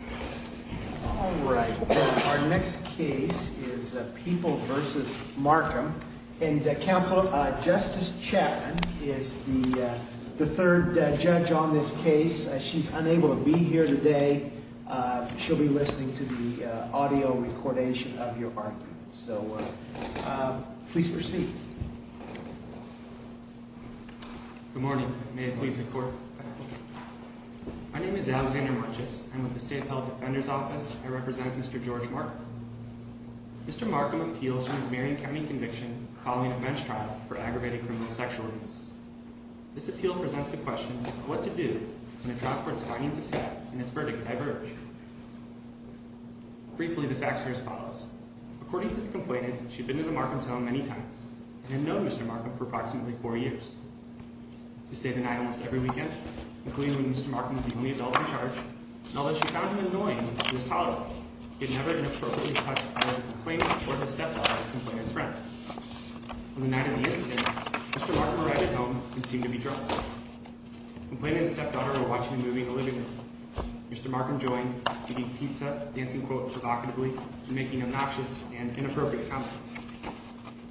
All right, our next case is People v. Marcum, and Justice Chapman is the third judge on this case. She's unable to be here today. She'll be listening to the audio recordation of your argument. So, please proceed. Good morning. May it please the court. My name is Alexander Marches, and with the State Appellate Defender's Office, I represent Mr. George Marcum. Mr. Marcum appeals for his Marion County conviction following a bench trial for aggravated criminal sexual abuse. This appeal presents the question of what to do in a trial for its findings of fact and its verdict ever earlier. Briefly, the facts are as follows. According to the complainant, she'd been to the Marcum's home many times, and had known Mr. Marcum for approximately four years. She stayed the night almost every weekend, including when Mr. Marcum was the only adult in charge, and although she found him annoying when he was tolerable, she had never been appropriately touched by the complainant or the stepdaughter of the complainant's friend. On the night of the incident, Mr. Marcum arrived at home and seemed to be troubled. The complainant and stepdaughter were watching a movie in the living room. Mr. Marcum joined, eating pizza, dancing provocatively, and making obnoxious and inappropriate comments.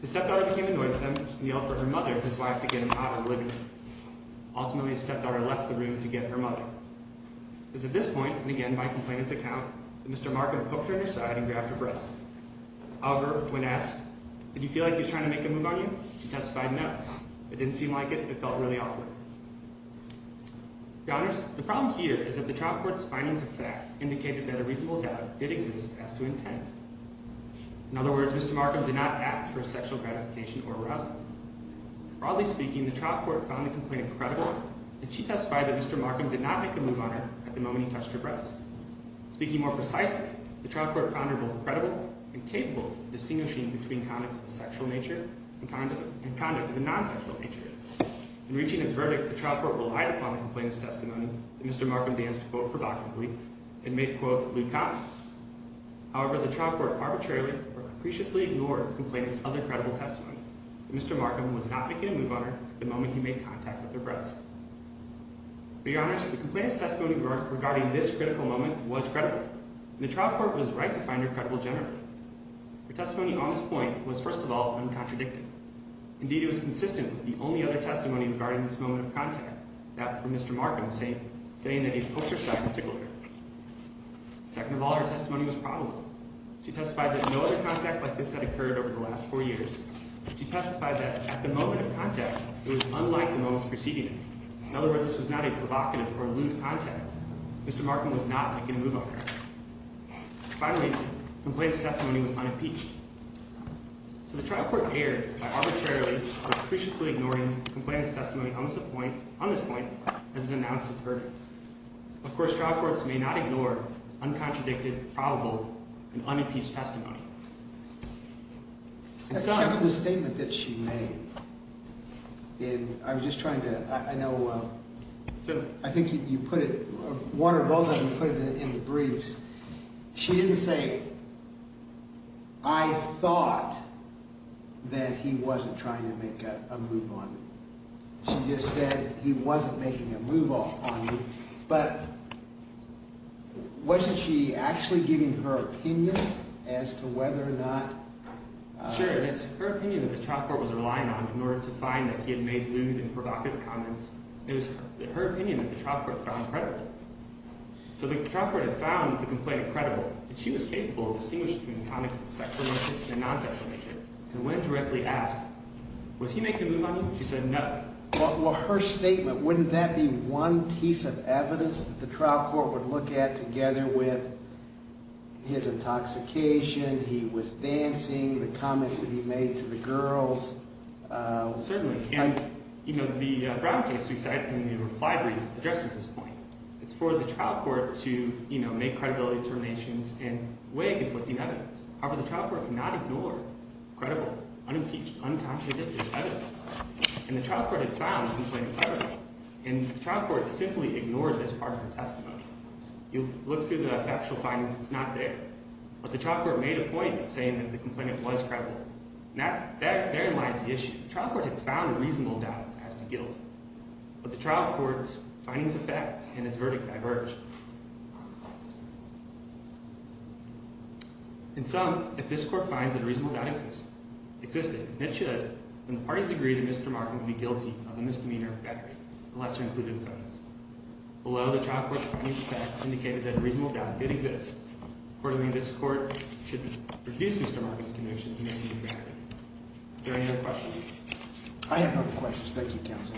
The stepdaughter became annoyed with him, and yelled for her mother, his wife, to get out of the living room. Ultimately, the stepdaughter left the room to get her mother. It was at this point, and again by complainant's account, that Mr. Marcum poked her in her side and grabbed her breasts. However, when asked, did you feel like he was trying to make a move on you, she testified no. It didn't seem like it. It felt really awkward. The problem here is that the trial court's findings of fact indicated that a reasonable doubt did exist as to intent. In other words, Mr. Marcum did not act for sexual gratification or arousal. Broadly speaking, the trial court found the complainant credible, and she testified that Mr. Marcum did not make a move on her at the moment he touched her breasts. Speaking more precisely, the trial court found her both credible and capable of distinguishing between conduct of the sexual nature and conduct of the non-sexual nature. In reaching his verdict, the trial court relied upon the complainant's testimony that Mr. Marcum danced, quote, provocatively, and made, quote, lewd comments. However, the trial court arbitrarily or capriciously ignored the complainant's other credible testimony that Mr. Marcum was not making a move on her at the moment he made contact with her breasts. For your honors, the complainant's testimony regarding this critical moment was credible, and the trial court was right to find her credible generally. Her testimony on this point was, first of all, uncontradicted. Indeed, it was consistent with the only other testimony regarding this moment of contact, that of Mr. Marcum, saying that he poked her sides to glitter. Second of all, her testimony was probable. She testified that no other contact like this had occurred over the last four years. She testified that at the moment of contact, it was unlike the moments preceding it. In other words, this was not a provocative or lewd contact. Mr. Marcum was not making a move on her. Finally, the complainant's testimony was unimpeached. So the trial court erred by arbitrarily or capriciously ignoring the complainant's testimony on this point as it announced its verdict. Of course, trial courts may not ignore uncontradicted, probable, and unimpeached testimony. That's the statement that she made. And I was just trying to – I know – I think you put it – Warner, both of you put it in the briefs. She didn't say, I thought that he wasn't trying to make a move on me. She just said he wasn't making a move on me. But wasn't she actually giving her opinion as to whether or not – Sure, and it's her opinion that the trial court was relying on in order to find that he had made lewd and provocative comments. It was her opinion that the trial court found credible. So the trial court had found the complainant credible, and she was capable of distinguishing between comic sexual mischief and non-sexual mischief and went and directly asked, was he making a move on you? She said no. Well, her statement, wouldn't that be one piece of evidence that the trial court would look at together with his intoxication, he was dancing, the comments that he made to the girls? Certainly. And the Brown case we cited in the reply brief addresses this point. It's for the trial court to make credibility determinations and weigh conflicting evidence. However, the trial court cannot ignore credible, unimpeached, unconstituted evidence. And the trial court had found the complainant credible, and the trial court simply ignored this part of her testimony. You look through the factual findings, it's not there, but the trial court made a point of saying that the complainant was credible. And therein lies the issue. The trial court had found a reasonable doubt as to guilt, but the trial court's findings of fact and its verdict diverged. In sum, if this court finds that a reasonable doubt existed, and it should, then the parties agree that Mr. Martin would be guilty of a misdemeanor of battery, a lesser included offense. Below, the trial court's findings of fact indicated that a reasonable doubt did exist. Accordingly, this court should refuse Mr. Martin's conviction of misdemeanor battery. Are there any other questions? I have no questions. Thank you, Counsel.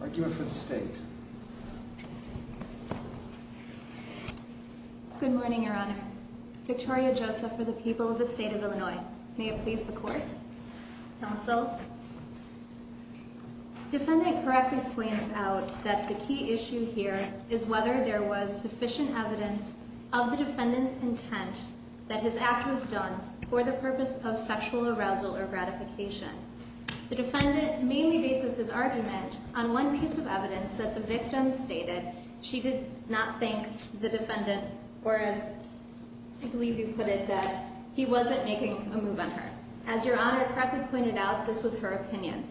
Argue it for the State. Good morning, Your Honors. Victoria Joseph for the people of the State of Illinois. May it please the Court. Counsel, defendant correctly points out that the key issue here is whether there was sufficient evidence of the defendant's intent that his act was done for the purpose of sexual arousal or gratification. The defendant mainly bases his argument on one piece of evidence that the victim stated she did not think the defendant, or as I believe you put it, that he wasn't making a move on her. As Your Honor correctly pointed out, this was her opinion.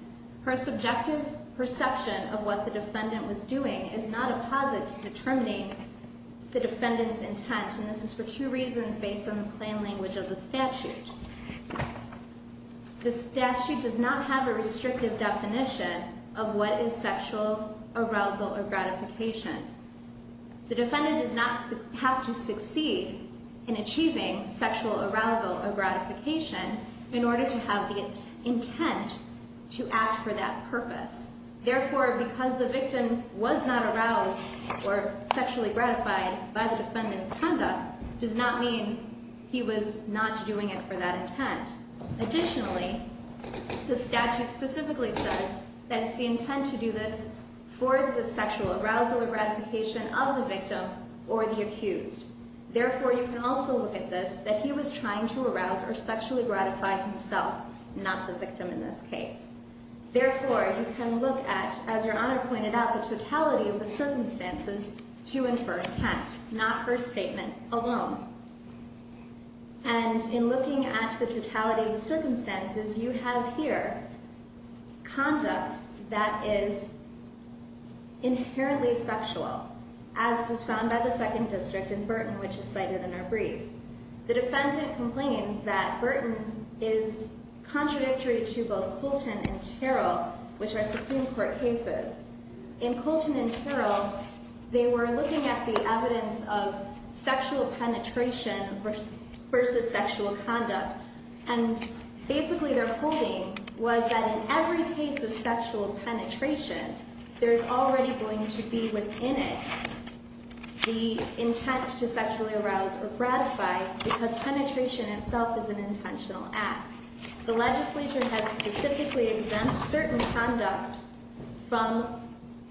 Her subjective perception of what the defendant was doing is not a posit to determining the defendant's intent, and this is for two reasons based on the plain language of the statute. The statute does not have a restrictive definition of what is sexual arousal or gratification. The defendant does not have to succeed in achieving sexual arousal or gratification in order to have the intent to act for that purpose. Therefore, because the victim was not aroused or sexually gratified by the defendant's conduct does not mean he was not doing it for that intent. Additionally, the statute specifically says that it's the intent to do this for the sexual arousal or gratification of the victim or the accused. Therefore, you can also look at this that he was trying to arouse or sexually gratify himself, not the victim in this case. Therefore, you can look at, as Your Honor pointed out, the totality of the circumstances to infer intent, not her statement alone. And in looking at the totality of the circumstances, you have here conduct that is inherently sexual, as is found by the Second District in Burton, which is cited in our brief. The defendant complains that Burton is contradictory to both Colton and Terrell, which are Supreme Court cases. In Colton and Terrell, they were looking at the evidence of sexual penetration versus sexual conduct. And basically their holding was that in every case of sexual penetration, there's already going to be within it the intent to sexually arouse or gratify because penetration itself is an intentional act. The legislature has specifically exempt certain conduct from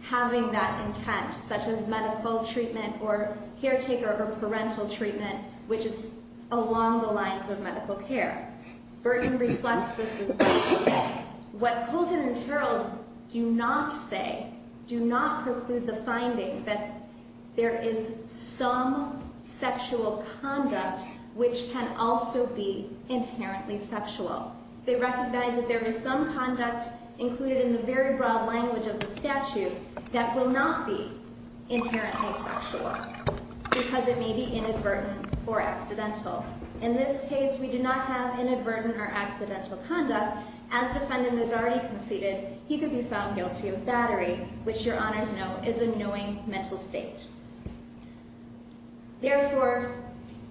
having that intent, such as medical treatment or caretaker or parental treatment, which is along the lines of medical care. Burton reflects this as well. What Colton and Terrell do not say, do not preclude the finding that there is some sexual conduct which can also be inherently sexual. They recognize that there is some conduct included in the very broad language of the statute that will not be inherently sexual because it may be inadvertent or accidental. In this case, we do not have inadvertent or accidental conduct. As defendant has already conceded, he could be found guilty of battery, which your honors know is a knowing mental state. Therefore,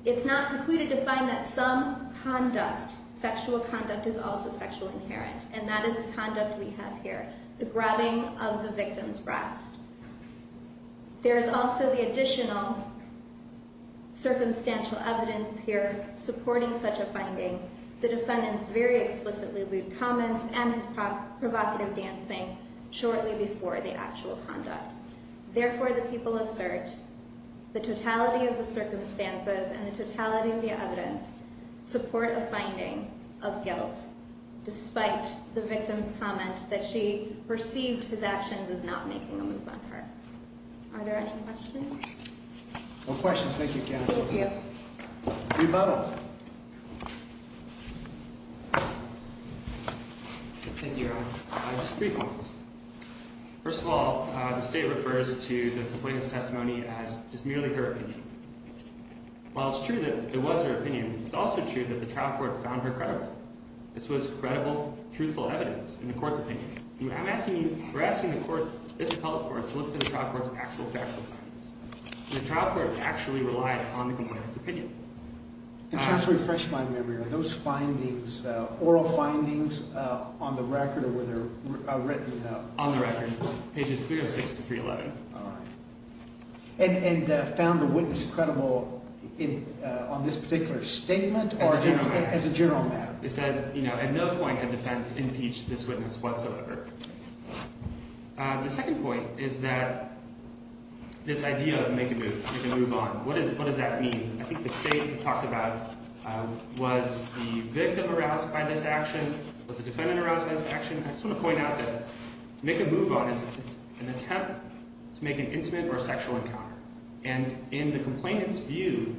it's not precluded to find that some conduct, sexual conduct, is also sexually inherent, and that is the conduct we have here, the grabbing of the victim's breast. There is also the additional circumstantial evidence here supporting such a finding. The defendant's very explicitly lewd comments and his provocative dancing shortly before the actual conduct. Therefore, the people assert the totality of the circumstances and the totality of the evidence support a finding of guilt, despite the victim's comment that she perceived his actions as not making a move on her. Are there any questions? No questions. Thank you, counsel. Thank you. Rebuttal. Thank you, your honor. Just three points. First of all, the state refers to the complainant's testimony as merely her opinion. While it's true that it was her opinion, it's also true that the trial court found her credible. This was credible, truthful evidence in the court's opinion. We're asking the court, this appellate court, to look to the trial court's actual factual findings. Just to refresh my memory, are those findings, oral findings, on the record or were they written? On the record, pages 306 to 311. All right. And found the witness credible on this particular statement or as a general matter? As a general matter. They said, you know, at no point had defense impeached this witness whatsoever. The second point is that this idea of make a move, make a move on, what does that mean? I think the state talked about, was the victim aroused by this action? Was the defendant aroused by this action? I just want to point out that make a move on is an attempt to make an intimate or sexual encounter. And in the complainant's view,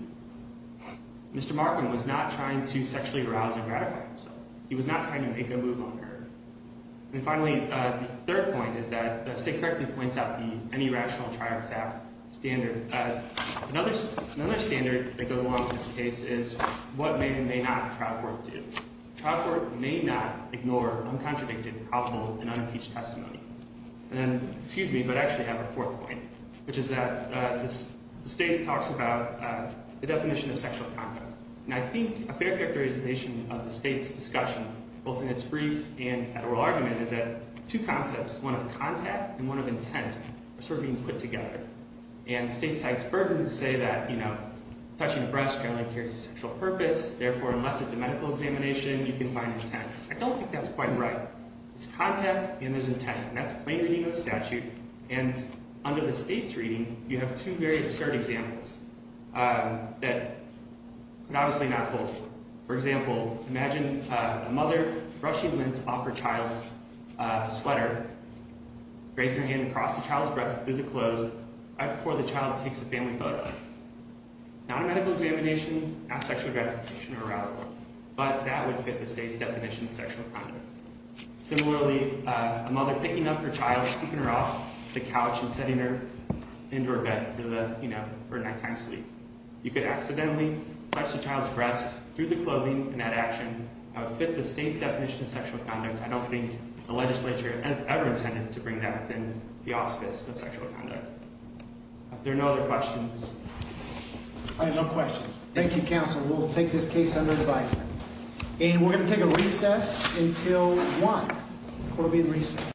Mr. Markman was not trying to sexually arouse or gratify himself. He was not trying to make a move on her. And finally, the third point is that the state correctly points out the any rational trial is apt standard. Another standard that goes along with this case is what men may not in trial court do. Trial court may not ignore uncontradicted, helpful, and unimpeached testimony. And then, excuse me, but I actually have a fourth point, which is that the state talks about the definition of sexual conduct. And I think a fair characterization of the state's discussion, both in its brief and at oral argument, is that two concepts, one of contact and one of intent, are sort of being put together. And the state cites Burden to say that, you know, touching a breast generally carries a sexual purpose. Therefore, unless it's a medical examination, you can find intent. I don't think that's quite right. It's contact and there's intent, and that's plain reading of the statute. And under the state's reading, you have two very absurd examples that could obviously not hold. For example, imagine a mother brushing lint off her child's sweater, raising her hand across the child's breast through the clothes right before the child takes a family photo. Not a medical examination, not sexual gratification or arousal, but that would fit the state's definition of sexual conduct. Similarly, a mother picking up her child, scooping her off the couch and setting her into her bed for a nighttime sleep. You could accidentally touch the child's breast through the clothing in that action. That would fit the state's definition of sexual conduct. And I don't think the legislature ever intended to bring that within the auspice of sexual conduct. If there are no other questions. I have no questions. Thank you, counsel. We'll take this case under advisement. And we're going to take a recess until 1. We'll be in recess.